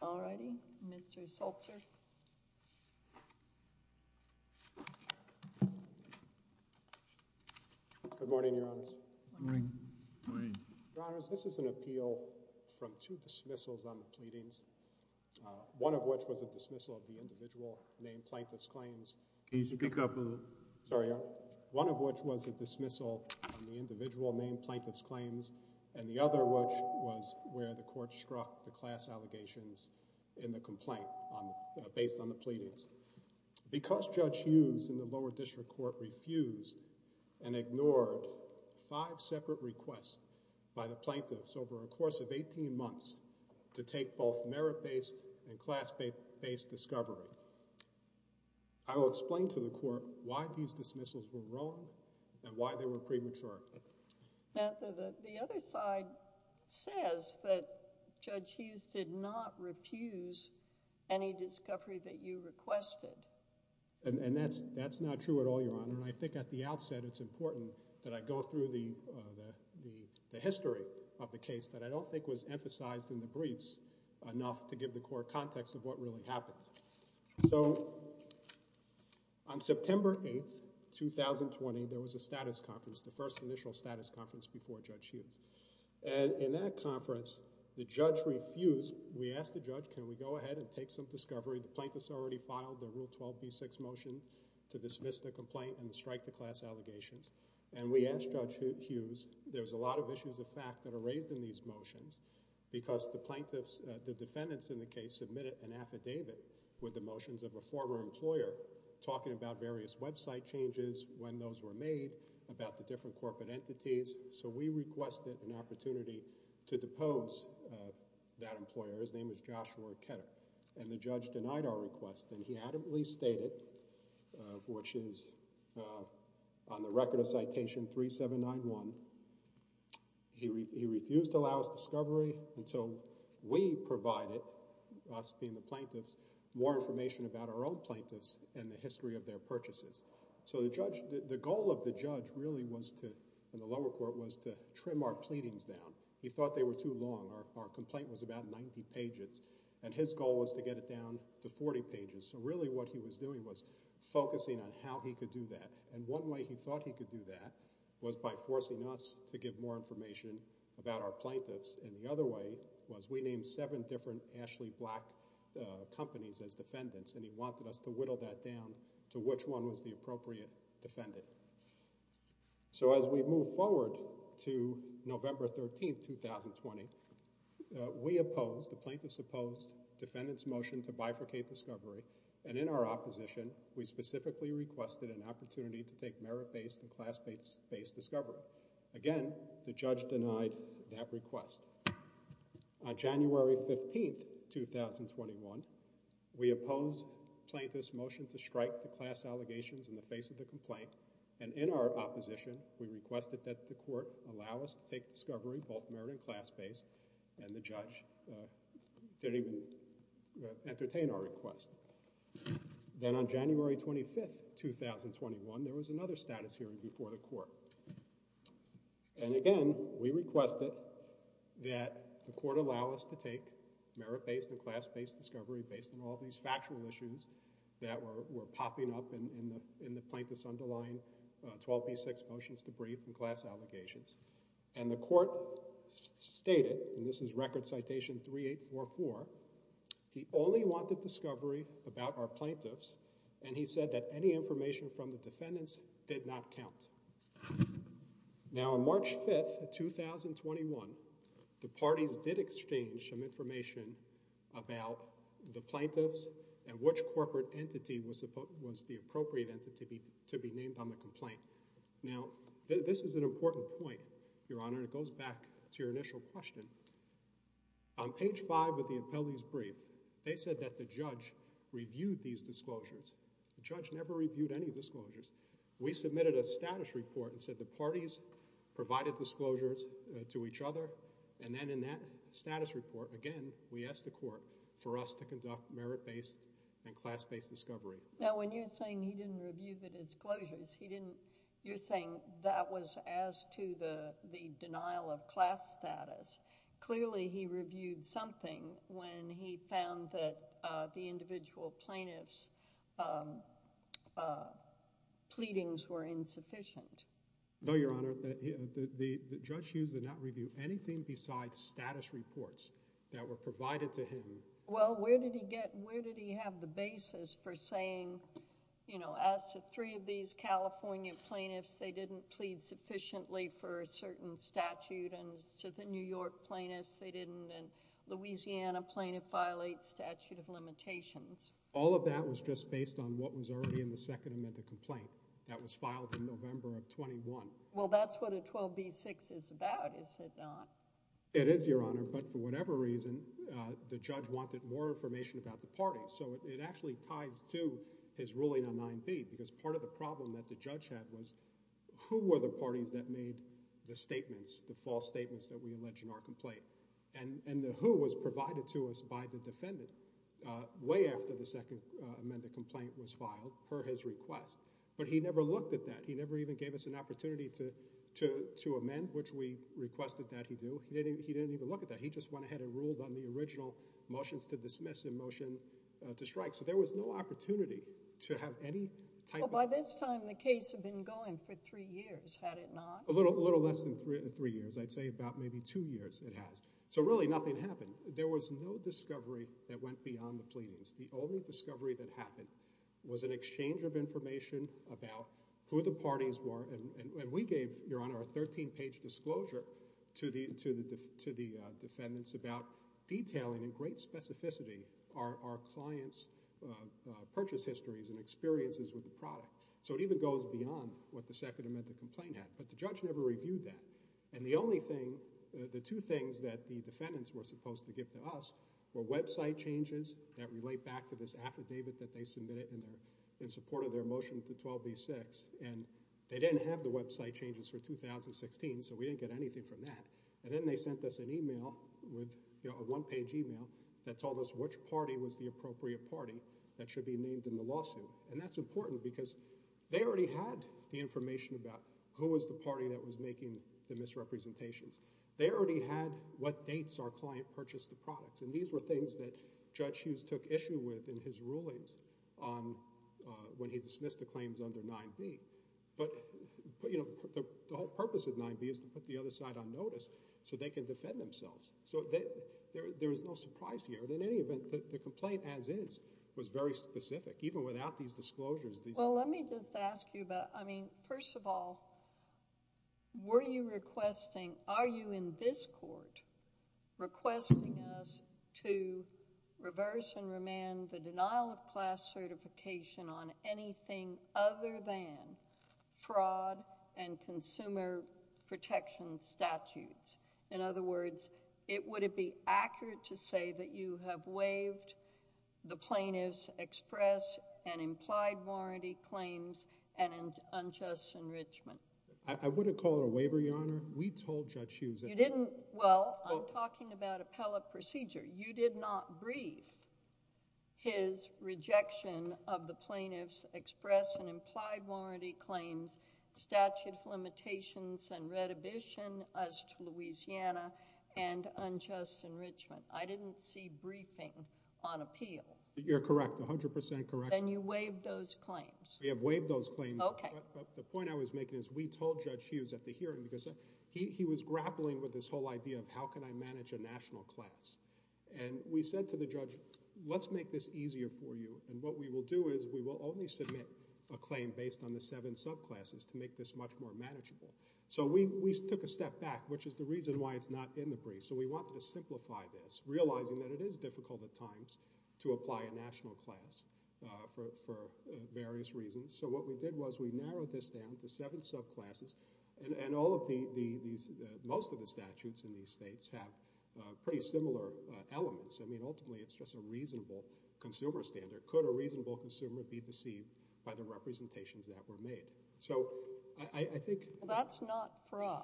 All righty, Mr. Seltzer. Good morning, Your Honors. Good morning. Good morning. Your Honors, this is an appeal from two dismissals on the pleadings, one of which was a dismissal of the individual named Plaintiff's Claims. Can you speak up a little? Sorry, Your Honor. One of which was a dismissal of the individual named Plaintiff's Claims and the other which was where the court struck the class allegations in the complaint based on the pleadings. Because Judge Hughes in the lower district court refused and ignored five separate requests by the plaintiffs over a course of 18 months to take both merit-based and class-based discovery, I will explain to the court why these dismissals were wrong and why they were premature. The other side says that Judge Hughes did not refuse any discovery that you requested. And that's not true at all, Your Honor. And I think at the outset it's important that I go through the history of the case that I don't think was emphasized in the briefs enough to give the court context of what really happened. So on September 8, 2020, there was a status conference, the first initial status conference before Judge Hughes. And in that conference, the judge refused. We asked the judge, can we go ahead and take some discovery? The plaintiffs already filed the Rule 12b6 motion to dismiss the complaint and strike the class allegations. And we asked Judge Hughes, there's a lot of issues of fact that are raised in these motions because the plaintiffs, the defendants in the case submitted an affidavit with the motions of a former employer talking about various website changes, when those were made, about the different corporate entities. So we requested an opportunity to depose that employer. His name is Joshua Ketter. And the judge denied our request and he adamantly stated, which is on the record of Citation 3791, he refused to allow us discovery until we provided, us being the plaintiffs, more information about our own plaintiffs and the history of their purchases. So the goal of the judge really was to, in the lower court, was to trim our pleadings down. He thought they were too long. Our complaint was about 90 pages. And his goal was to get it down to 40 pages. So really what he was doing was focusing on how he could do that. And one way he thought he could do that was by forcing us to give more information about our plaintiffs. And the other way was we named seven different Ashley Black companies as defendants and he wanted us to whittle that down to which one was the appropriate defendant. So as we move forward to November 13, 2020, we opposed, the plaintiffs opposed, defendant's motion to bifurcate discovery. And in our opposition, we specifically requested an opportunity to take merit-based and class-based discovery. Again, the judge denied that request. On January 15, 2021, we opposed plaintiffs' motion to strike the class allegations in the face of the complaint. And in our opposition, we requested that the court allow us to take discovery, both merit and class-based, and the judge didn't even entertain our request. Then on January 25, 2021, there was another status hearing before the court. And again, we requested that the court allow us to take merit-based and class-based discovery based on all these factual issues that were popping up in the plaintiffs' underlying 12b6 motions to brief and class allegations. And the court stated, and this is record citation 3844, he only wanted discovery about our plaintiffs, and he said that any information from the defendants did not count. Now, on March 5, 2021, the parties did exchange some information about the plaintiffs and which corporate entity was the appropriate entity to be named on the complaint. Now, this is an important point, Your Honor, and it goes back to your initial question. On page 5 of the appellee's brief, they said that the judge reviewed these disclosures. The judge never reviewed any disclosures. We submitted a status report and said the parties provided disclosures to each other, and then in that status report, again, we asked the court for us to conduct merit-based and class-based discovery. Now, when you're saying he didn't review the disclosures, he didn't – you're saying that was as to the denial of class status. Clearly, he reviewed something when he found that the individual plaintiffs' pleadings were insufficient. No, Your Honor. The judge used the not review anything besides status reports that were provided to him. Well, where did he get – where did he have the basis for saying, you know, as to three of these California plaintiffs, they didn't plead sufficiently for a certain statute, and to the New York plaintiffs, they didn't, and Louisiana plaintiff violates statute of limitations. All of that was just based on what was already in the second amendment to the complaint. That was filed in November of 21. Well, that's what a 12b-6 is about, is it not? It is, Your Honor, but for whatever reason, the judge wanted more information about the parties. So it actually ties to his ruling on 9b because part of the problem that the judge had was who were the parties that made the statements, the false statements that we allege in our complaint? And the who was provided to us by the defendant way after the second amended complaint was filed per his request, but he never looked at that. He never even gave us an opportunity to amend, which we requested that he do. He didn't even look at that. He just went ahead and ruled on the original motions to dismiss and motion to strike. So there was no opportunity to have any type of – Well, by this time, the case had been going for three years, had it not? A little less than three years. I'd say about maybe two years it has. So really, nothing happened. There was no discovery that went beyond the pleadings. The only discovery that happened was an exchange of information about who the parties were and we gave, Your Honor, a 13-page disclosure to the defendants about detailing in great specificity our clients' purchase histories and experiences with the product. So it even goes beyond what the second amended complaint had, but the judge never reviewed that. And the only thing, the two things that the defendants were supposed to give to us were affidavit that they submitted in support of their motion to 12b-6, and they didn't have the website changes for 2016, so we didn't get anything from that. And then they sent us an email, a one-page email, that told us which party was the appropriate party that should be named in the lawsuit. And that's important because they already had the information about who was the party that was making the misrepresentations. They already had what dates our client purchased the products. And these were things that Judge Hughes took issue with in his rulings when he dismissed the claims under 9b. But, you know, the whole purpose of 9b is to put the other side on notice so they can defend themselves. So there is no surprise here. In any event, the complaint, as is, was very specific. Even without these disclosures. Well, let me just ask you about, I mean, first of all, were you requesting, are you in this court requesting us to reverse and remand the denial of class certification on anything other than fraud and consumer protection statutes? In other words, would it be accurate to say that you have waived the plaintiff's express and implied warranty claims and unjust enrichment? You didn't... well, I'm talking about appellate procedure. You did not brief his rejection of the plaintiff's express and implied warranty claims, statute of limitations and redivision as to Louisiana and unjust enrichment. I didn't see briefing on appeal. You're correct. A hundred percent correct. Then you waived those claims. We have waived those claims. Okay. The point I was making is we told Judge Hughes at the hearing because he was grappling with this whole idea of how can I manage a national class. And we said to the judge, let's make this easier for you. And what we will do is we will only submit a claim based on the seven subclasses to make this much more manageable. So we took a step back, which is the reason why it's not in the brief. So we wanted to simplify this, realizing that it is difficult at times to apply a national class for various reasons. So what we did was we narrowed this down to seven subclasses. And all of these... most of the statutes in these states have pretty similar elements. I mean, ultimately, it's just a reasonable consumer standard. Could a reasonable consumer be deceived by the representations that were made? So I think... That's not fraud.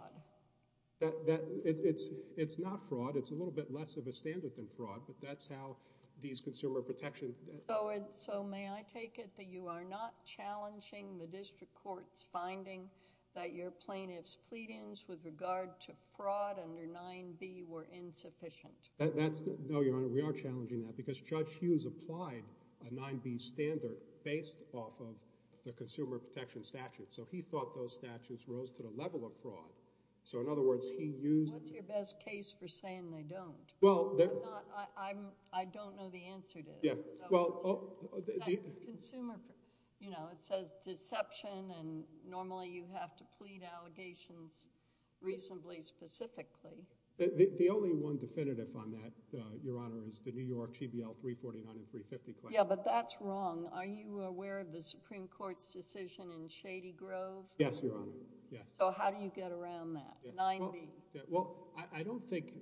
It's not fraud. It's a little bit less of a standard than fraud, but that's how these consumer protections... So may I take it that you are not challenging the district court's finding that your plaintiff's pleadings with regard to fraud under 9b were insufficient? No, Your Honor, we are challenging that because Judge Hughes applied a 9b standard based off of the consumer protection statute. So he thought those statutes rose to the level of fraud. So in other words, he used... What's your best case for saying they don't? I don't know the answer to this. Yeah, well... It says deception, and normally you have to plead allegations reasonably specifically. The only one definitive on that, Your Honor, is the New York GBL 349 and 350 claims. Yeah, but that's wrong. Are you aware of the Supreme Court's decision in Shady Grove? Yes, Your Honor, yes. So how do you get around that, 9b? Well, I don't think...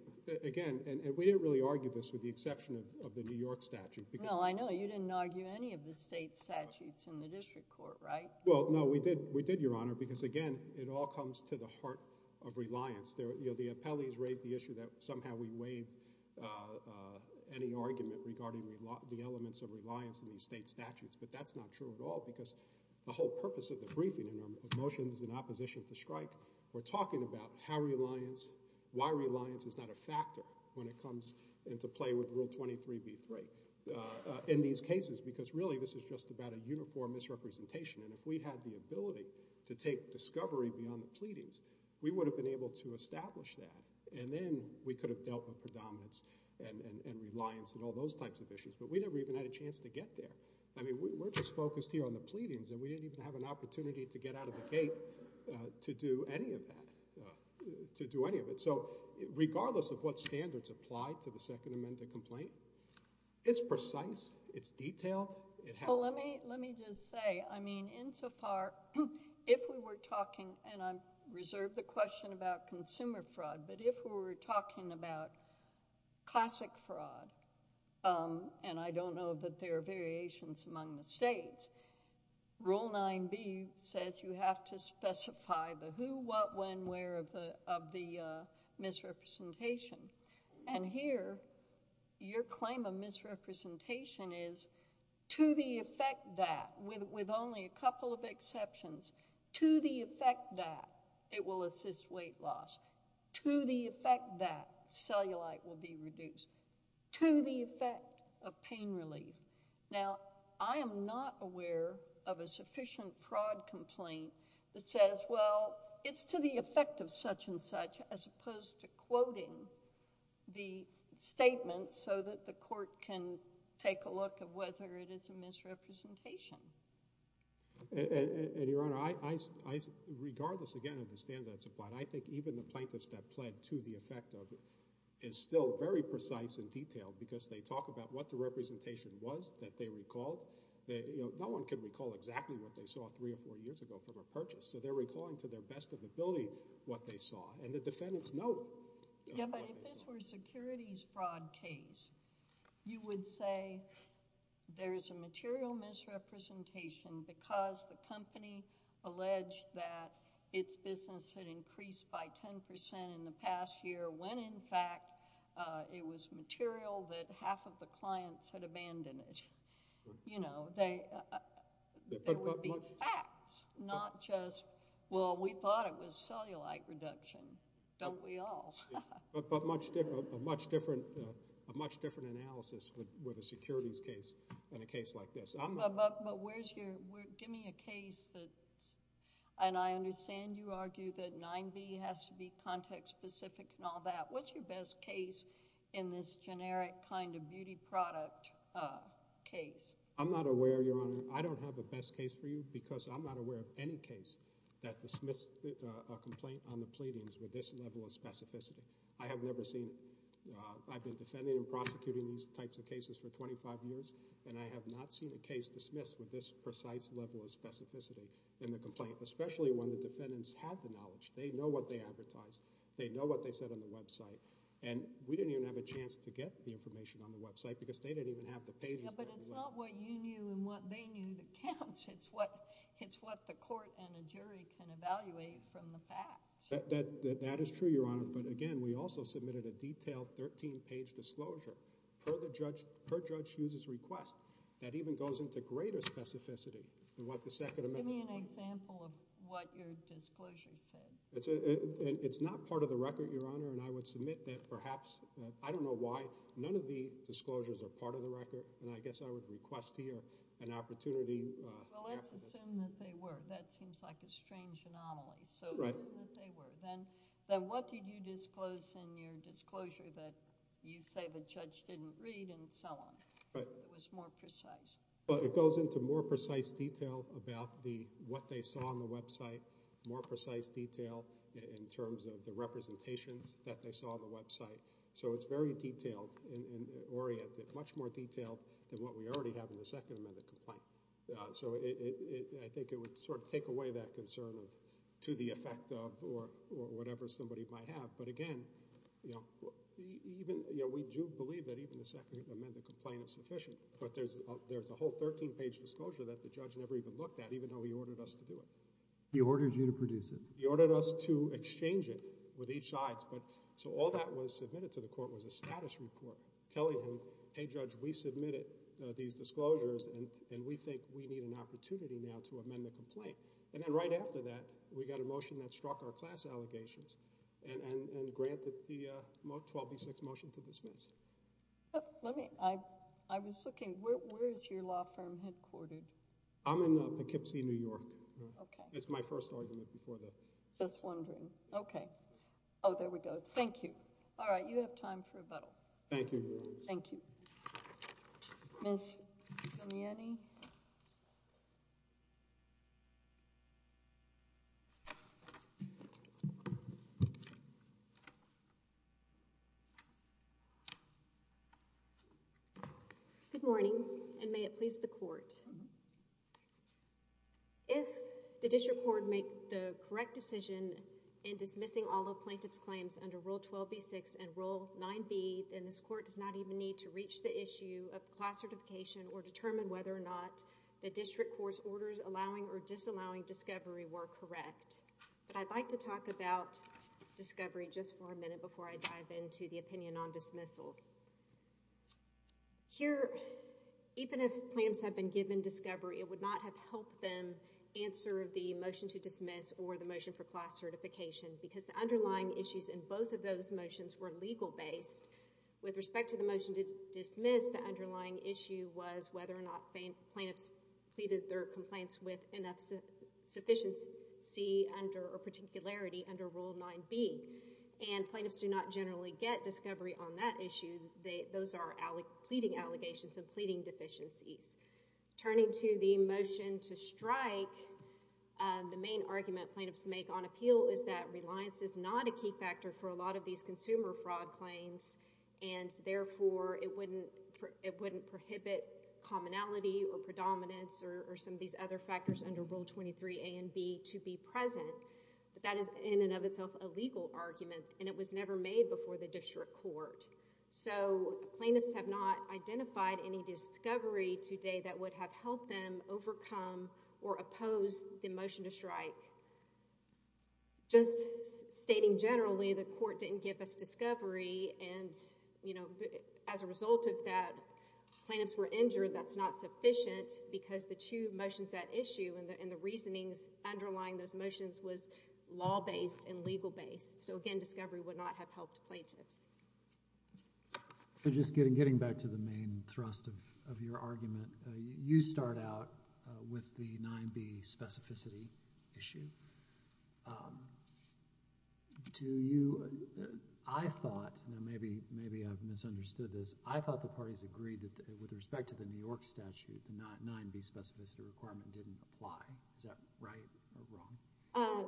again, and we didn't really argue this with the exception of the New York statute because... No, I know. You didn't argue any of the state statutes in the district court, right? Well, no, we did, Your Honor, because again, it all comes to the heart of reliance. The appellees raised the issue that somehow we waived any argument regarding the elements of reliance in these state statutes, but that's not true at all because the whole purpose of the briefing and our motions in opposition to Strike were talking about how reliance, why reliance is not a factor when it comes into play with Rule 23b-3 in these cases because really this is just about a uniform misrepresentation, and if we had the ability to take discovery beyond the pleadings, we would have been able to establish that, and then we could have dealt with predominance and reliance and all those types of issues, but we never even had a chance to get there. I mean, we're just focused here on the pleadings, and we didn't even have an opportunity to get out of the gate to do any of that, to do any of it, so regardless of what standards apply to the Second Amendment complaint, it's precise. It's detailed. It has... Well, let me just say, I mean, insofar, if we were talking, and I reserve the question about consumer fraud, but if we were talking about classic fraud, and I don't know that there are variations among the states, Rule 9b says you have to specify the who, what, when, where of the misrepresentation, and here your claim of misrepresentation is to the effect that, with only a couple of exceptions, to the effect that it will assist weight loss, to the effect that cellulite will be reduced, to the effect of pain relief. Now, I am not aware of a sufficient fraud complaint that says, well, it's to the effect of such and such, as opposed to quoting the statement so that the court can take a look of whether it is a misrepresentation. Your Honor, regardless, again, of the standards applied, I think even the plaintiffs that pled to the effect of it is still very precise and detailed because they talk about what the representation was that they recalled. No one can recall exactly what they saw three or four years ago from a purchase, so they're recalling to their best of ability what they saw, and the defendants know what they saw. Yeah, but if this were a securities fraud case, you would say there is a material misrepresentation because the company alleged that its business had increased by 10% in the past year when in fact it was material that half of the clients had abandoned it. You know, there would be facts, not just, well, we thought it was cellulite reduction. Don't we all? But a much different analysis with a securities case than a case like this. But where's your... give me a case that... and I understand you argue that 9B has to be context specific and all that. What's your best case in this generic kind of beauty product case? I'm not aware, Your Honor. I don't have a best case for you because I'm not aware of any case that dismisses a complaint on the pleadings with this level of specificity. I have never seen... I've been defending and prosecuting these types of cases for 25 years, and I have not seen a case dismissed with this precise level of specificity in the complaint, especially when the defendants had the knowledge. They know what they advertised. They know what they said on the website, and we didn't even have a chance to get the information on the website because they didn't even have the pages. It's what the court and a jury can evaluate from the facts. That is true, Your Honor, but again, we also submitted a detailed 13-page disclosure. Per judge's request, that even goes into greater specificity than what the Second Amendment... Give me an example of what your disclosure said. It's not part of the record, Your Honor, and I would submit that perhaps... I don't know why. None of the disclosures are part of the record, and I guess I would request here an opportunity... Well, let's assume that they were. That seems like a strange anomaly. Right. So, assume that they were. Then, what did you disclose in your disclosure that you say the judge didn't read and so on? Right. It was more precise. Well, it goes into more precise detail about what they saw on the website, more precise detail in terms of the representations that they saw on the website. So, it's very detailed and oriented, much more detailed than what we already have in the Second Amendment complaint. So, it... I think it would sort of take away that concern of to the effect of or whatever somebody might have. But again, you know, even... you know, we do believe that even the Second Amendment complaint is sufficient, but there's a whole 13-page disclosure that the judge never even looked at, even though he ordered us to do it. He ordered you to produce it. He ordered us to exchange it with each side. So, all that was submitted to the court was a status report telling him, hey judge, we think we need an opportunity now to amend the complaint. And then right after that, we got a motion that struck our class allegations and granted the 12B6 motion to dismiss. Let me... I was looking. Where is your law firm headquartered? I'm in Poughkeepsie, New York. Okay. It's my first argument before that. Just wondering. Oh, there we go. Thank you. All right. You have time for rebuttal. Thank you. Thank you. Ms. Guglielmi? Good morning, and may it please the court. If the district court makes the correct decision in dismissing all the plaintiff's claims under Rule 12B6 and Rule 9B, then this court does not even need to reach the issue of class certification or determine whether or not the district court's orders allowing or disallowing discovery were correct. But I'd like to talk about discovery just for a minute before I dive into the opinion on dismissal. Here, even if plaintiffs have been given discovery, it would not have helped them answer the motion to dismiss or the motion for class certification because the underlying issues in both of those motions were legal-based. With respect to the motion to dismiss, the underlying issue was whether or not plaintiffs pleaded their complaints with enough sufficiency or particularity under Rule 9B. And plaintiffs do not generally get discovery on that issue. Those are pleading allegations and pleading deficiencies. Turning to the motion to strike, the main argument plaintiffs make on appeal is that fraud claims and, therefore, it wouldn't prohibit commonality or predominance or some of these other factors under Rule 23A and B to be present. But that is in and of itself a legal argument, and it was never made before the district court. So plaintiffs have not identified any discovery today that would have helped them overcome or oppose the motion to strike. Just stating generally, the court didn't give us discovery. And, you know, as a result of that, plaintiffs were injured. That's not sufficient because the two motions at issue and the reasonings underlying those motions was law-based and legal-based. So, again, discovery would not have helped plaintiffs. So just getting back to the main thrust of your argument, you start out with the 9B specificity issue. Do you—I thought—now, maybe I've misunderstood this—I thought the parties agreed that, with respect to the New York statute, the 9B specificity requirement didn't apply. Is that right or wrong?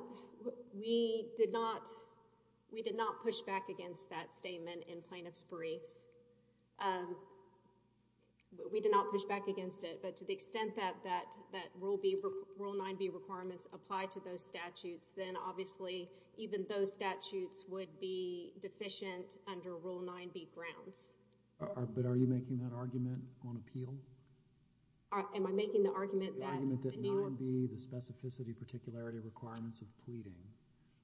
We did not—we did not push back against that statement in plaintiff's briefs. We did not push back against it. But to the extent that Rule 9B requirements apply to those statutes, then, obviously, even those statutes would be deficient under Rule 9B grounds. But are you making that argument on appeal? Am I making the argument that—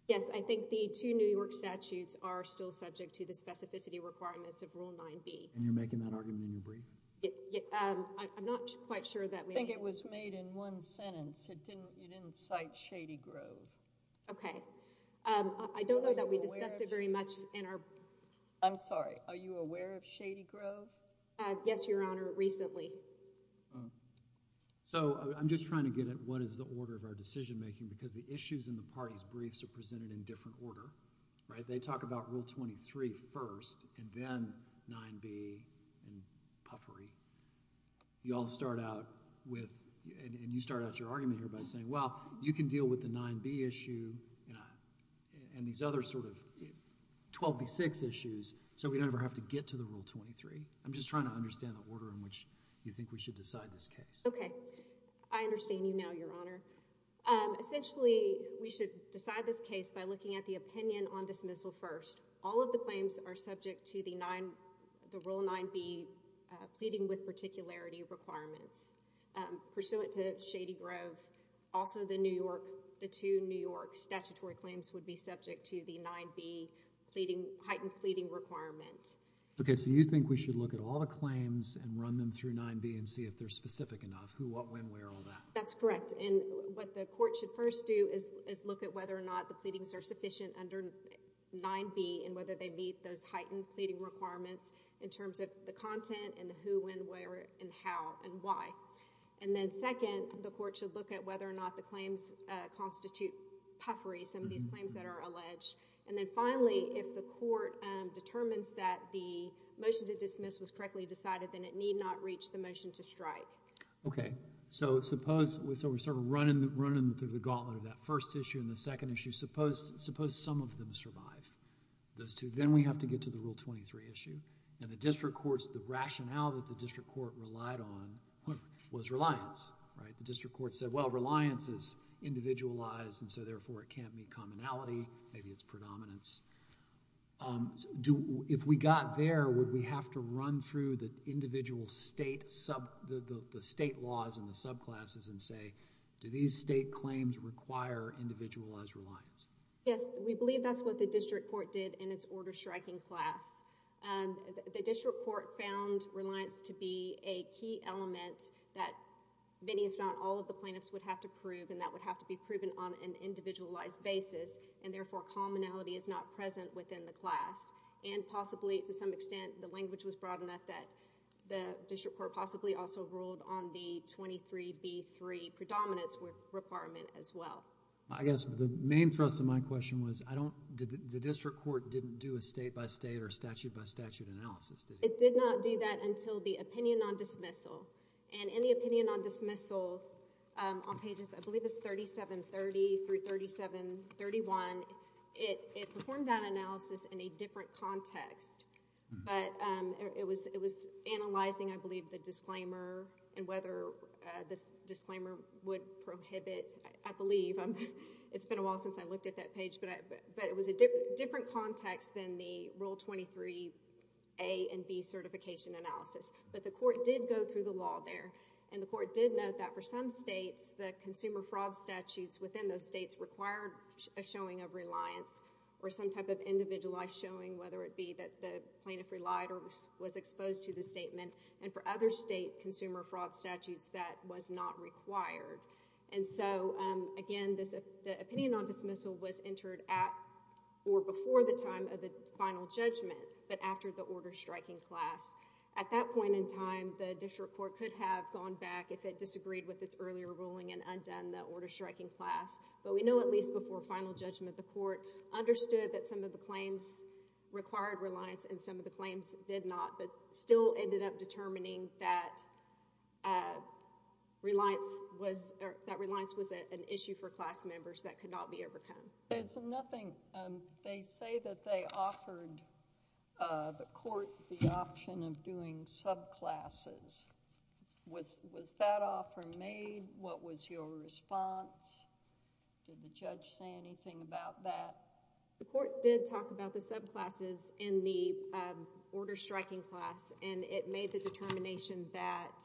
Yes, I think the two New York statutes are still subject to the specificity requirements of Rule 9B. And you're making that argument in your brief? I'm not quite sure that we— I think it was made in one sentence. It didn't—you didn't cite Shady Grove. Okay. I don't know that we discussed it very much in our— I'm sorry. Are you aware of Shady Grove? Yes, Your Honor, recently. So, I'm just trying to get at what is the order of our decision-making because the issues in the parties' briefs are presented in different order, right? They talk about Rule 23 first and then 9B and puffery. You all start out with—and you start out your argument here by saying, well, you can deal with the 9B issue and these other sort of 12B6 issues so we never have to get to the Rule 23. I'm just trying to understand the order in which you think we should decide this case. Okay. I understand you now, Your Honor. Essentially, we should decide this case by looking at the opinion on dismissal first. All of the claims are subject to the Rule 9B pleading with particularity requirements. Pursuant to Shady Grove, also the New York— the two New York statutory claims would be subject to the 9B heightened pleading requirement. Okay. So you think we should look at all the claims and run them through 9B and see if they're specific enough, who, what, when, where, all that? That's correct. And what the court should first do is look at whether or not the pleadings are sufficient under 9B and whether they meet those heightened pleading requirements in terms of the content and the who, when, where, and how and why. And then second, the court should look at whether or not the claims constitute puffery, some of these claims that are alleged. And then finally, if the court determines that the motion to dismiss was correctly decided, then it need not reach the motion to strike. Okay. So suppose—so we're sort of running them through the gauntlet of that first issue and the second issue. Suppose some of them survive, those two. Then we have to get to the Rule 23 issue. And the district court's—the rationale that the district court relied on was reliance, right? The district court said, well, reliance is individualized, and so therefore it can't meet commonality. Maybe it's predominance. If we got there, would we have to run through the individual state sub—the state laws and the subclasses and say, do these state claims require individualized reliance? Yes. We believe that's what the district court did in its order-striking class. The district court found reliance to be a key element that many, if not all, of the plaintiffs would have to prove, and that would have to be proven on an individualized basis, and therefore commonality is not present within the class. And possibly, to some extent, the language was broad enough that the district court possibly also ruled on the 23B3 predominance requirement as well. I guess the main thrust of my question was I don't— the district court didn't do a state-by-state or statute-by-statute analysis, did it? It did not do that until the opinion on dismissal. And in the opinion on dismissal on pages, I believe it's 3730 through 3731, it performed that analysis in a different context, but it was analyzing, I believe, the disclaimer and whether this disclaimer would prohibit, I believe. It's been a while since I looked at that page, but it was a different context than the Rule 23A and B certification analysis. But the court did go through the law there, and the court did note that for some states, the consumer fraud statutes within those states required a showing of reliance or some type of individualized showing, whether it be that the plaintiff relied or was exposed to the statement, and for other state consumer fraud statutes, that was not required. And so, again, the opinion on dismissal was entered at or before the time of the final judgment, but after the order striking class. At that point in time, the district court could have gone back if it disagreed with its earlier ruling and undone the order striking class. But we know at least before final judgment, the court understood that some of the claims required reliance and some of the claims did not, but still ended up determining that reliance was an issue for class members that could not be overcome. There's nothing—they say that they offered the court the option of doing subclasses. Was that offer made? What was your response? Did the judge say anything about that? The court did talk about the subclasses in the order striking class, and it made the determination that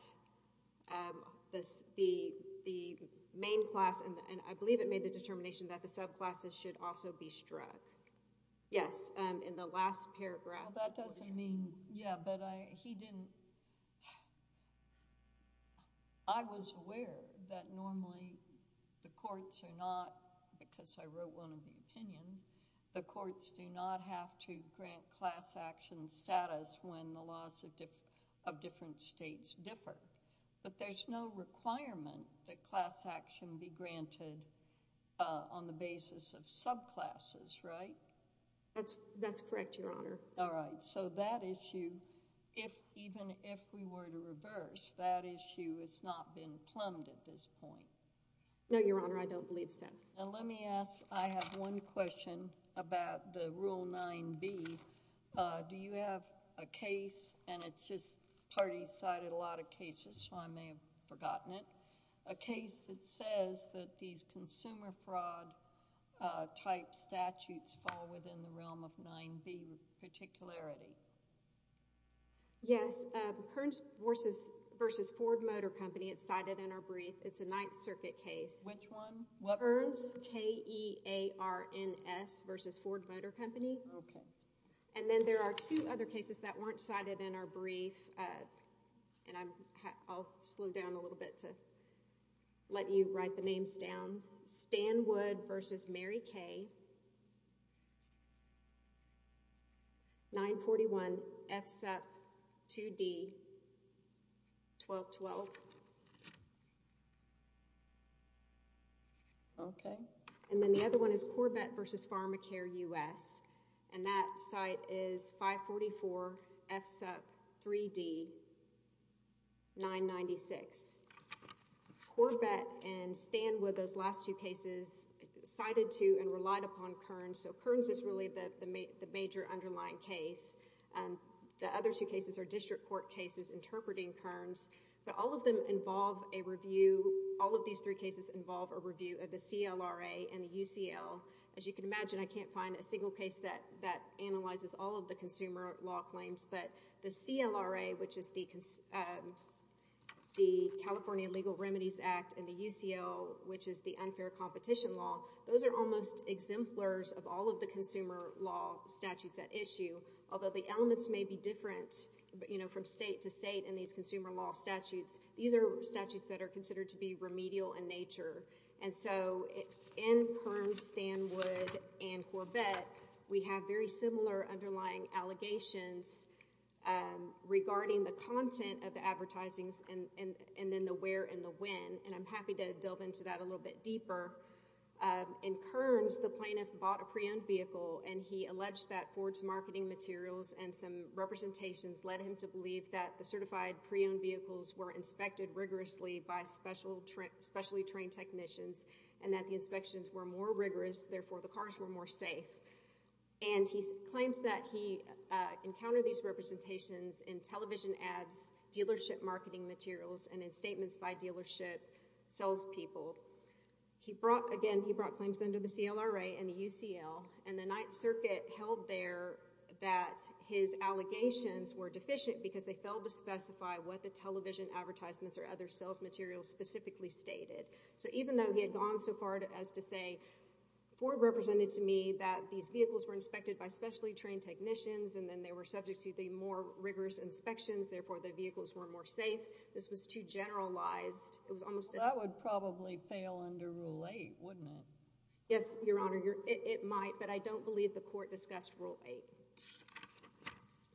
the main class— subclasses should also be struck. Yes, in the last paragraph. Well, that doesn't mean—yeah, but he didn't— I was aware that normally the courts are not, because I wrote one of the opinions, the courts do not have to grant class action status when the laws of different states differ, but there's no requirement that class action be granted on the basis of subclasses, right? That's correct, Your Honor. All right. So that issue, even if we were to reverse, that issue has not been plumbed at this point? No, Your Honor. I don't believe so. Now let me ask—I have one question about the Rule 9b. Do you have a case—and it's just parties cited a lot of cases, so I may have forgotten it— a case that says that these consumer fraud-type statutes fall within the realm of 9b particularity? Yes, Kearns v. Ford Motor Company. It's cited in our brief. It's a Ninth Circuit case. Which one? Kearns v. Ford Motor Company. Okay. And then there are two other cases that weren't cited in our brief, and I'll slow down a little bit to let you write the names down. Stanwood v. Mary Kay, 941 FSUP 2D 1212. Okay. And then the other one is Corbett v. Pharmacare U.S., and that site is 544 FSUP 3D 996. Corbett and Stanwood, those last two cases, cited to and relied upon Kearns, so Kearns is really the major underlying case. The other two cases are district court cases interpreting Kearns, but all of them involve a review—all of these three cases involve a review of the CLRA and the UCL. As you can imagine, I can't find a single case that analyzes all of the consumer law claims, but the CLRA, which is the California Legal Remedies Act, and the UCL, which is the Unfair Competition Law, those are almost exemplars of all of the consumer law statutes at issue, although the elements may be different from state to state in these consumer law statutes. These are statutes that are considered to be remedial in nature, and so in Kearns, Stanwood, and Corbett, we have very similar underlying allegations regarding the content of the advertisings and then the where and the when, and I'm happy to delve into that a little bit deeper. In Kearns, the plaintiff bought a pre-owned vehicle, and he alleged that Ford's marketing materials and some representations led him to believe that the certified pre-owned vehicles were inspected rigorously by specially trained technicians and that the inspections were more rigorous, therefore the cars were more safe. And he claims that he encountered these representations in television ads, dealership marketing materials, and in statements by dealership salespeople. Again, he brought claims under the CLRA and the UCL, and the Ninth Circuit held there that his allegations were deficient because they failed to specify what the television advertisements or other sales materials specifically stated. So even though he had gone so far as to say, Ford represented to me that these vehicles were inspected by specially trained technicians and then they were subject to the more rigorous inspections, therefore the vehicles were more safe, this was too generalized. Well, that would probably fail under Rule 8, wouldn't it? Yes, Your Honor, it might, but I don't believe the court discussed Rule 8.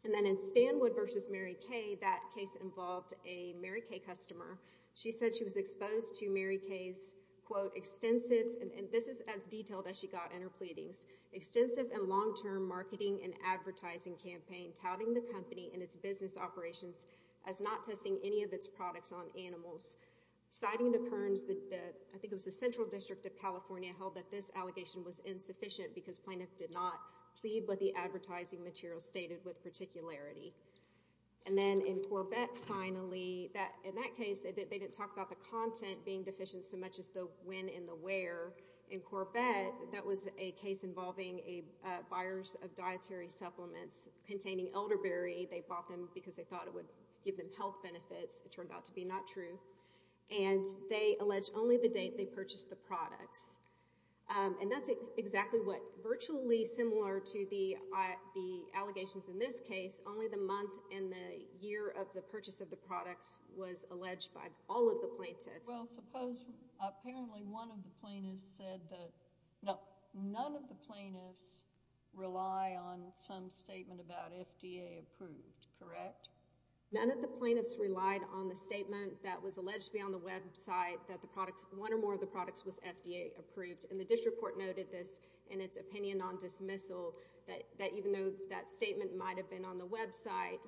And then in Stanwood v. Mary Kay, that case involved a Mary Kay customer. She said she was exposed to Mary Kay's, quote, extensive, and this is as detailed as she got in her pleadings, extensive and long-term marketing and advertising campaign touting the company and its business operations as not testing any of its products on animals. Citing the Kearns, I think it was the Central District of California, held that this allegation was insufficient because plaintiff did not plead what the advertising materials stated with particularity. And then in Corbett, finally, in that case, they didn't talk about the content being deficient so much as the when and the where. In Corbett, that was a case involving buyers of dietary supplements containing elderberry. They bought them because they thought it would give them health benefits. It turned out to be not true. And they alleged only the date they purchased the products. And that's exactly what virtually similar to the allegations in this case. Only the month and the year of the purchase of the products was alleged by all of the plaintiffs. Well, suppose apparently one of the plaintiffs said that, no, none of the plaintiffs rely on some statement about FDA approved, correct? None of the plaintiffs relied on the statement that was alleged to be on the website that one or more of the products was FDA approved. And the district court noted this in its opinion on dismissal, that even though that statement might have been on the website,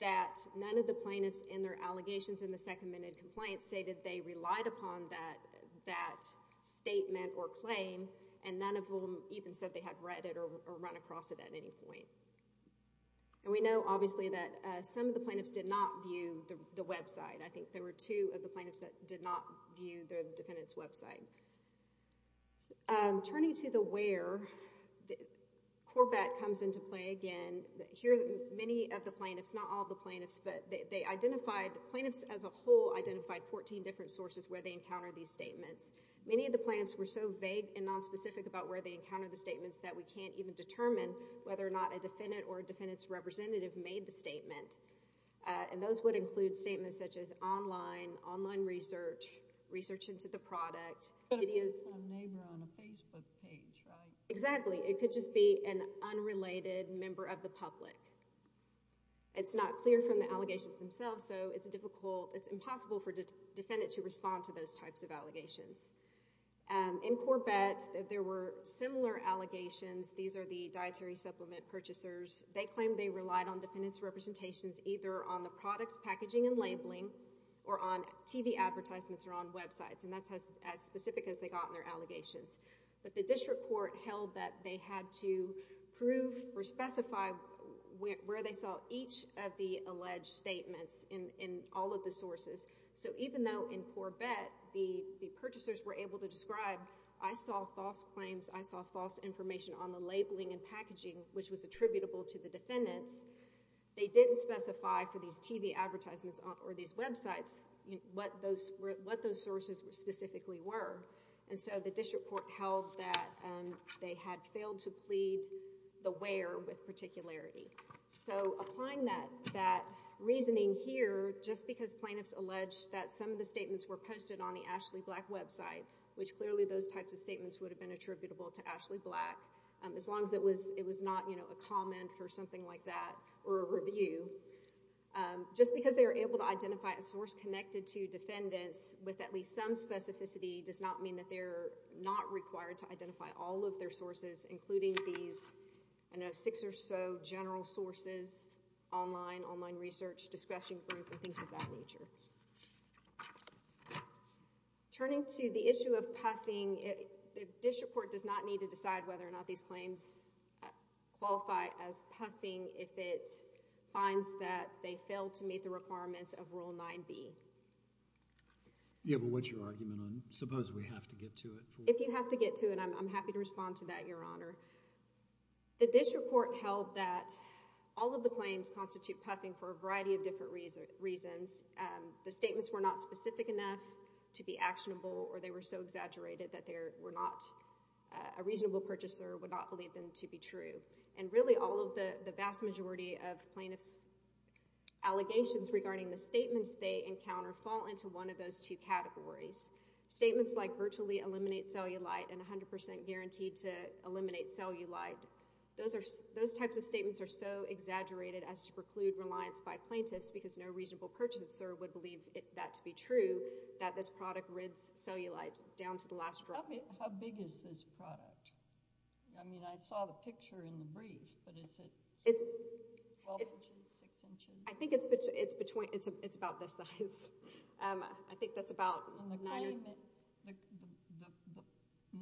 that none of the plaintiffs in their allegations in the second-minute complaint stated they relied upon that statement or claim, and none of them even said they had read it or run across it at any point. And we know, obviously, that some of the plaintiffs did not view the website. I think there were two of the plaintiffs that did not view the defendant's website. Turning to the where, Corbett comes into play again. Here many of the plaintiffs, not all of the plaintiffs, but they identified plaintiffs as a whole identified 14 different sources where they encountered these statements. Many of the plaintiffs were so vague and nonspecific about where they encountered the statements that we can't even determine whether or not a defendant or a defendant's representative made the statement. And those would include statements such as online, online research, research into the product. It could have been from a neighbor on a Facebook page, right? Exactly. It could just be an unrelated member of the public. It's not clear from the allegations themselves, so it's impossible for defendants to respond to those types of allegations. In Corbett, there were similar allegations. These are the dietary supplement purchasers. They claimed they relied on defendants' representations either on the product's packaging and labeling or on TV advertisements or on websites, and that's as specific as they got in their allegations. But the district court held that they had to prove or specify where they saw each of the alleged statements in all of the sources. So even though in Corbett the purchasers were able to describe, I saw false claims, I saw false information on the labeling and packaging, which was attributable to the defendants, they didn't specify for these TV advertisements or these websites what those sources specifically were. And so the district court held that they had failed to plead the where with particularity. So applying that reasoning here, just because plaintiffs alleged that some of the statements were posted on the Ashley Black website, which clearly those types of statements would have been attributable to Ashley Black, as long as it was not a comment or something like that or a review, just because they were able to identify a source connected to defendants with at least some specificity does not mean that they're not required to identify all of their sources, including these six or so general sources, online, online research, discretion group, and things of that nature. Turning to the issue of puffing, the district court does not need to decide whether or not these claims qualify as puffing if it finds that they fail to meet the requirements of Rule 9B. Yeah, but what's your argument on suppose we have to get to it? If you have to get to it, I'm happy to respond to that, Your Honor. The district court held that all of the claims constitute puffing for a variety of different reasons. The statements were not specific enough to be actionable, or they were so exaggerated that a reasonable purchaser would not believe them to be true. And really, all of the vast majority of plaintiffs' allegations regarding the statements they encounter fall into one of those two categories. Statements like virtually eliminate cellulite and 100% guaranteed to eliminate cellulite, those types of statements are so exaggerated as to preclude reliance by plaintiffs because no reasonable purchaser would believe that to be true, that this product rids cellulite down to the last drop. How big is this product? I mean, I saw the picture in the brief, but is it 12 inches, 6 inches? I think it's about this size. I think that's about 9 inches. The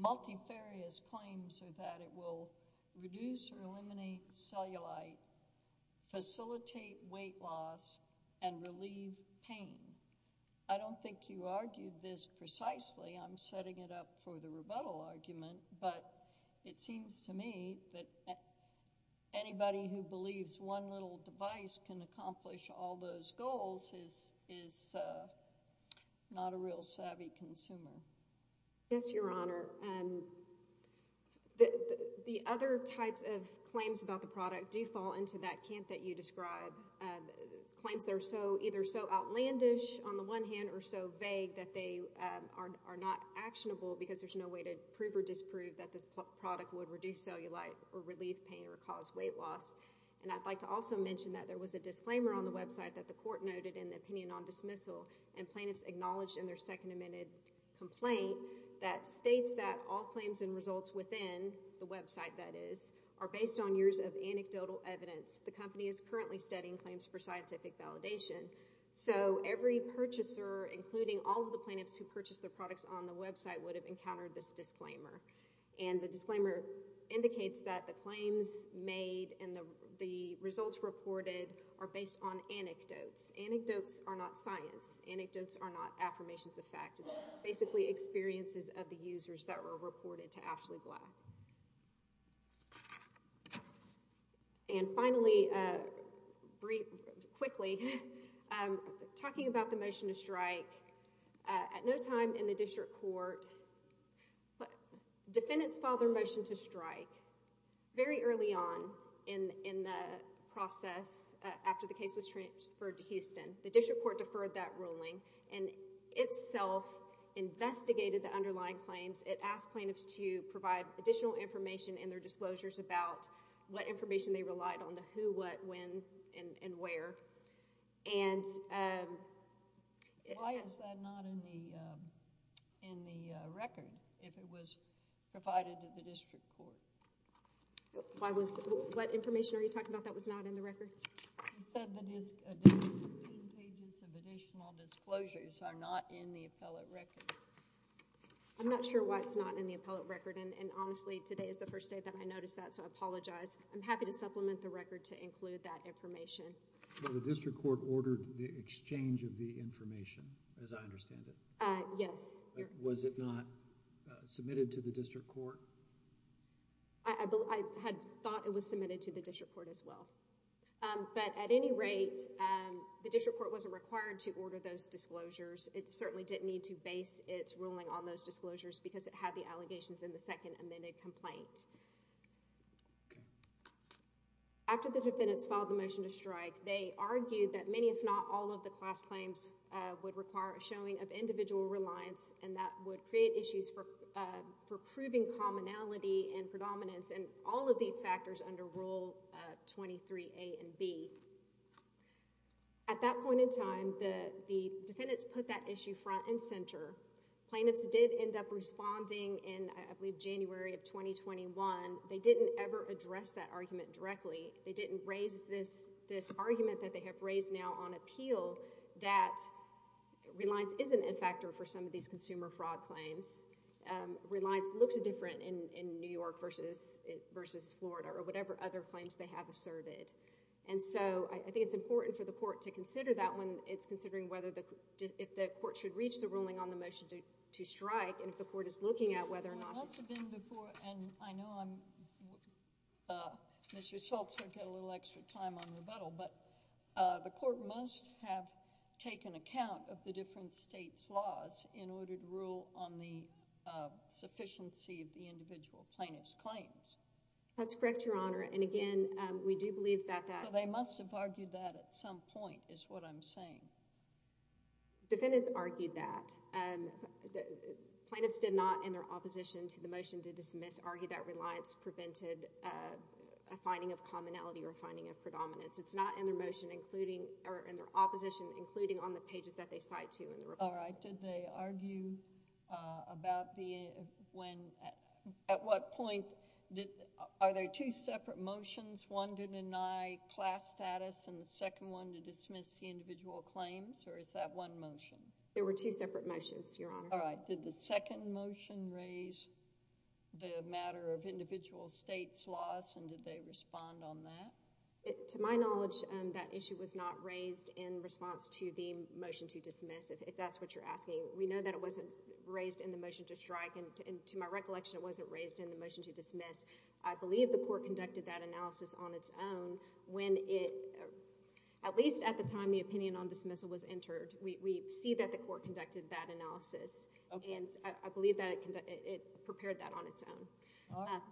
multifarious claims are that it will reduce or eliminate cellulite, facilitate weight loss, and relieve pain. I don't think you argued this precisely. I'm setting it up for the rebuttal argument, but it seems to me that anybody who believes one little device can accomplish all those goals is not a real savvy consumer. Yes, Your Honor. The other types of claims about the product do fall into that camp that you describe, claims that are either so outlandish on the one hand or so vague that they are not actionable because there's no way to prove or disprove that this product would reduce cellulite or relieve pain or cause weight loss. And I'd like to also mention that there was a disclaimer on the website that the court noted in the opinion on dismissal, and plaintiffs acknowledged in their second amended complaint that states that all claims and results within the website, that is, are based on years of anecdotal evidence. The company is currently studying claims for scientific validation. So every purchaser, including all of the plaintiffs who purchased the products on the website, would have encountered this disclaimer. And the disclaimer indicates that the claims made and the results reported are based on anecdotes. Anecdotes are not science. Anecdotes are not affirmations of fact. It's basically experiences of the users that were reported to Ashley Black. And finally, briefly, quickly, talking about the motion to strike, at no time in the district court, defendants filed their motion to strike very early on in the process after the case was transferred to Houston. The district court deferred that ruling and itself investigated the underlying claims. It asked plaintiffs to provide additional information in their disclosures about what information they relied on, the who, what, when, and where. Why is that not in the record, if it was provided to the district court? What information are you talking about that was not in the record? It said that 15 pages of additional disclosures are not in the appellate record. I'm not sure why it's not in the appellate record. And honestly, today is the first day that I noticed that, so I apologize. I'm happy to supplement the record to include that information. The district court ordered the exchange of the information, as I understand it. Yes. Was it not submitted to the district court? I had thought it was submitted to the district court as well. But at any rate, the district court wasn't required to order those disclosures. It certainly didn't need to base its ruling on those disclosures because it had the allegations in the second amended complaint. After the defendants filed the motion to strike, they argued that many, if not all, of the class claims would require a showing of individual reliance, and that would create issues for proving commonality and predominance in all of these factors under Rule 23a and b. At that point in time, the defendants put that issue front and center. Plaintiffs did end up responding in, I believe, January of 2021. They didn't ever address that argument directly. They didn't raise this argument that they have raised now on appeal that reliance isn't a factor for some of these consumer fraud claims. Reliance looks different in New York versus Florida or whatever other claims they have asserted. And so I think it's important for the court to consider that when it's considering if the court should reach the ruling on the motion to strike and if the court is looking at whether or not— Well, that's been before, and I know Mr. Schultz won't get a little extra time on rebuttal, but the court must have taken account of the different states' laws in order to rule on the sufficiency of the individual plaintiff's claims. That's correct, Your Honor. And again, we do believe that that— So they must have argued that at some point is what I'm saying. Defendants argued that. Plaintiffs did not, in their opposition to the motion to dismiss, argue that reliance prevented a finding of commonality or finding of predominance. It's not in their motion, including—or in their opposition, including on the pages that they cite to in the report. All right. Did they argue about the—when—at what point—are there two separate motions, one to deny class status and the second one to dismiss the individual claims, or is that one motion? There were two separate motions, Your Honor. All right. Did the second motion raise the matter of individual states' laws, and did they respond on that? To my knowledge, that issue was not raised in response to the motion to dismiss, if that's what you're asking. We know that it wasn't raised in the motion to strike, and to my recollection, it wasn't raised in the motion to dismiss. I believe the court conducted that analysis on its own when it— at least at the time the opinion on dismissal was entered. We see that the court conducted that analysis, and I believe that it prepared that on its own. All right.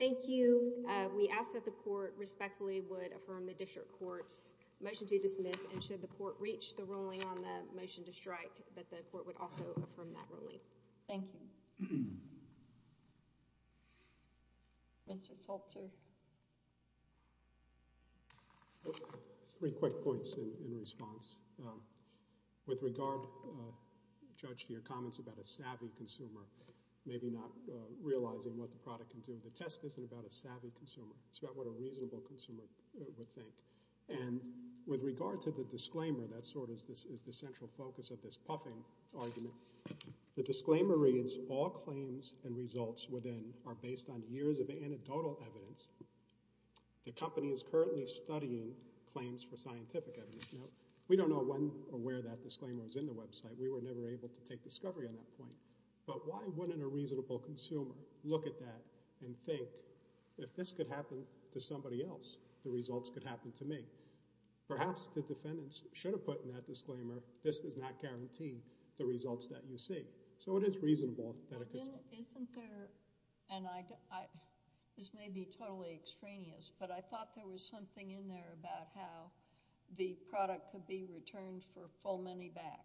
Thank you. We ask that the court respectfully would affirm the district court's motion to dismiss, and should the court reach the ruling on the motion to strike, that the court would also affirm that ruling. Thank you. Mr. Salter. Three quick points in response. With regard, Judge, to your comments about a savvy consumer maybe not realizing what the product can do, the test isn't about a savvy consumer. It's about what a reasonable consumer would think. And with regard to the disclaimer, that sort of is the central focus of this puffing argument, the disclaimer reads, all claims and results within are based on years of anecdotal evidence. The company is currently studying claims for scientific evidence. Now we don't know when or where that disclaimer was in the website. We were never able to take discovery on that point. But why wouldn't a reasonable consumer look at that and think, if this could happen to somebody else, the results could happen to me. Perhaps the defendants should have put in that disclaimer, this does not guarantee the results that you see. So it is reasonable that a consumer. Isn't there, and this may be totally extraneous, but I thought there was something in there about how the product could be returned for full money back.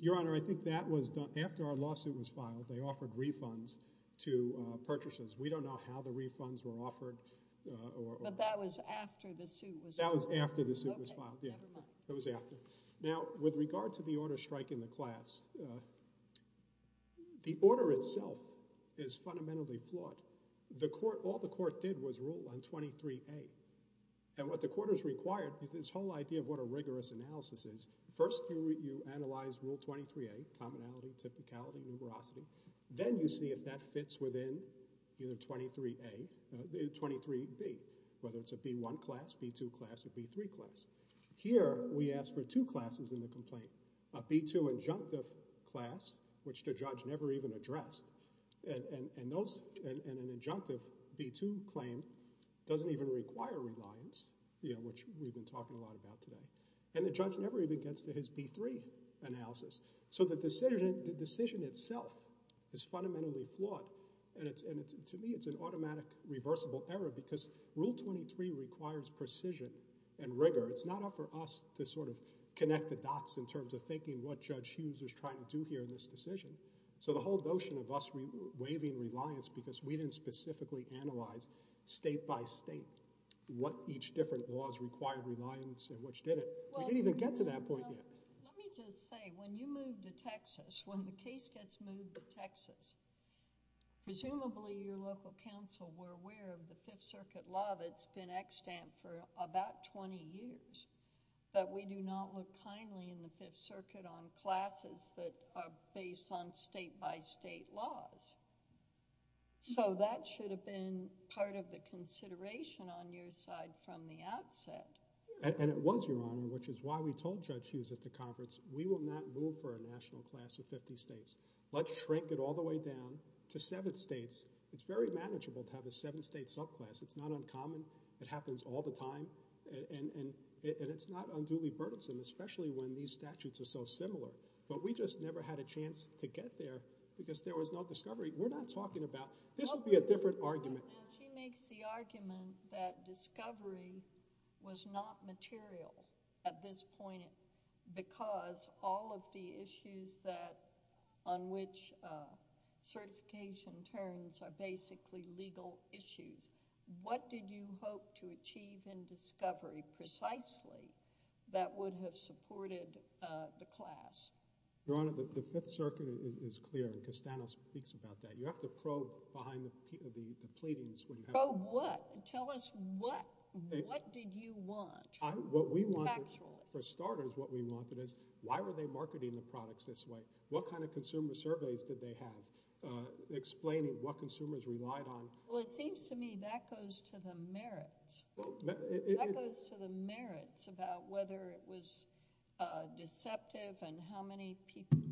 Your Honor, I think that was done, after our lawsuit was filed, they offered refunds to purchasers. We don't know how the refunds were offered. But that was after the suit was filed. That was after the suit was filed. Okay, never mind. That was after. Now with regard to the order striking the class, the order itself is fundamentally flawed. All the court did was rule on 23A. And what the court has required, this whole idea of what a rigorous analysis is, first you analyze rule 23A, commonality, typicality, numerosity. Then you see if that fits within either 23A, 23B, whether it's a B1 class, B2 class, or B3 class. Here we ask for two classes in the complaint. A B2 injunctive class, which the judge never even addressed. And an injunctive B2 claim doesn't even require reliance, which we've been talking a lot about today. And the judge never even gets to his B3 analysis. So the decision itself is fundamentally flawed. And to me it's an automatic reversible error because rule 23 requires precision and rigor. It's not up for us to sort of connect the dots in terms of thinking what Judge Hughes is trying to do here in this decision. So the whole notion of us waiving reliance because we didn't specifically analyze state by state what each different laws required reliance and which didn't. We didn't even get to that point yet. But let me just say, when you move to Texas, when the case gets moved to Texas, presumably your local council were aware of the Fifth Circuit law that's been extant for about twenty years, that we do not look kindly in the Fifth Circuit on classes that are based on state by state laws. So that should have been part of the consideration on your side from the outset. And it was, Your Honor, which is why we told Judge Hughes at the conference, we will not move for a national class of fifty states. Let's shrink it all the way down to seven states. It's very manageable to have a seven state subclass. It's not uncommon. It happens all the time. And it's not unduly burdensome, especially when these statutes are so similar. But we just never had a chance to get there because there was no discovery. We're not talking about – this would be a different argument. She makes the argument that discovery was not material at this point because all of the issues on which certification turns are basically legal issues. What did you hope to achieve in discovery, precisely, that would have supported the class? Your Honor, the Fifth Circuit is clear, and Castano speaks about that. You have to probe behind the pleadings. Probe what? Tell us what did you want? For starters, what we wanted is why were they marketing the products this way? What kind of consumer surveys did they have explaining what consumers relied on? Well, it seems to me that goes to the merits. That goes to the merits about whether it was deceptive and how many people –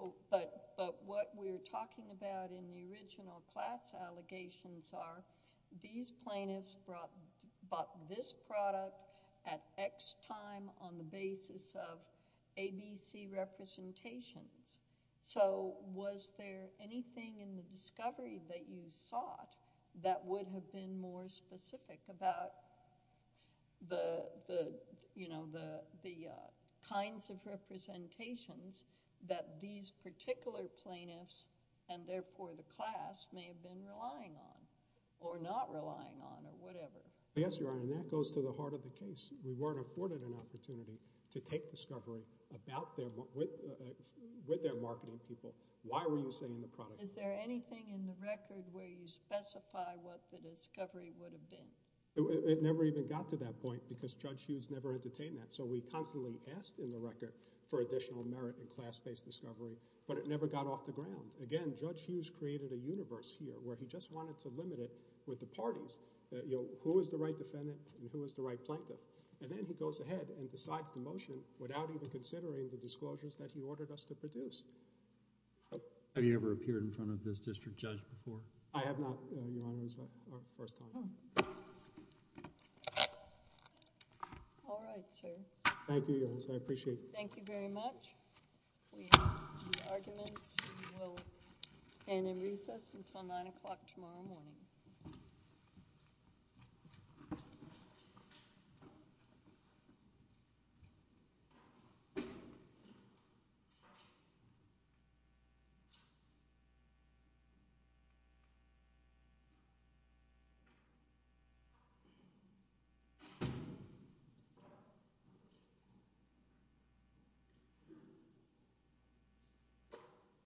and the original class allegations are these plaintiffs bought this product at X time on the basis of ABC representations. So was there anything in the discovery that you sought that would have been more specific about the kinds of representations that these particular plaintiffs and therefore the class may have been relying on or not relying on or whatever? Yes, Your Honor, and that goes to the heart of the case. We weren't afforded an opportunity to take discovery with their marketing people. Why were you saying the product? Is there anything in the record where you specify what the discovery would have been? It never even got to that point because Judge Hughes never entertained that. So we constantly asked in the record for additional merit in class-based discovery, but it never got off the ground. Again, Judge Hughes created a universe here where he just wanted to limit it with the parties. Who is the right defendant and who is the right plaintiff? And then he goes ahead and decides the motion without even considering the disclosures that he ordered us to produce. Have you ever appeared in front of this district judge before? I have not, Your Honor. All right, sir. Thank you, Your Honor. I appreciate it. Thank you very much. The argument will stand in recess until 9 o'clock tomorrow morning. Thank you.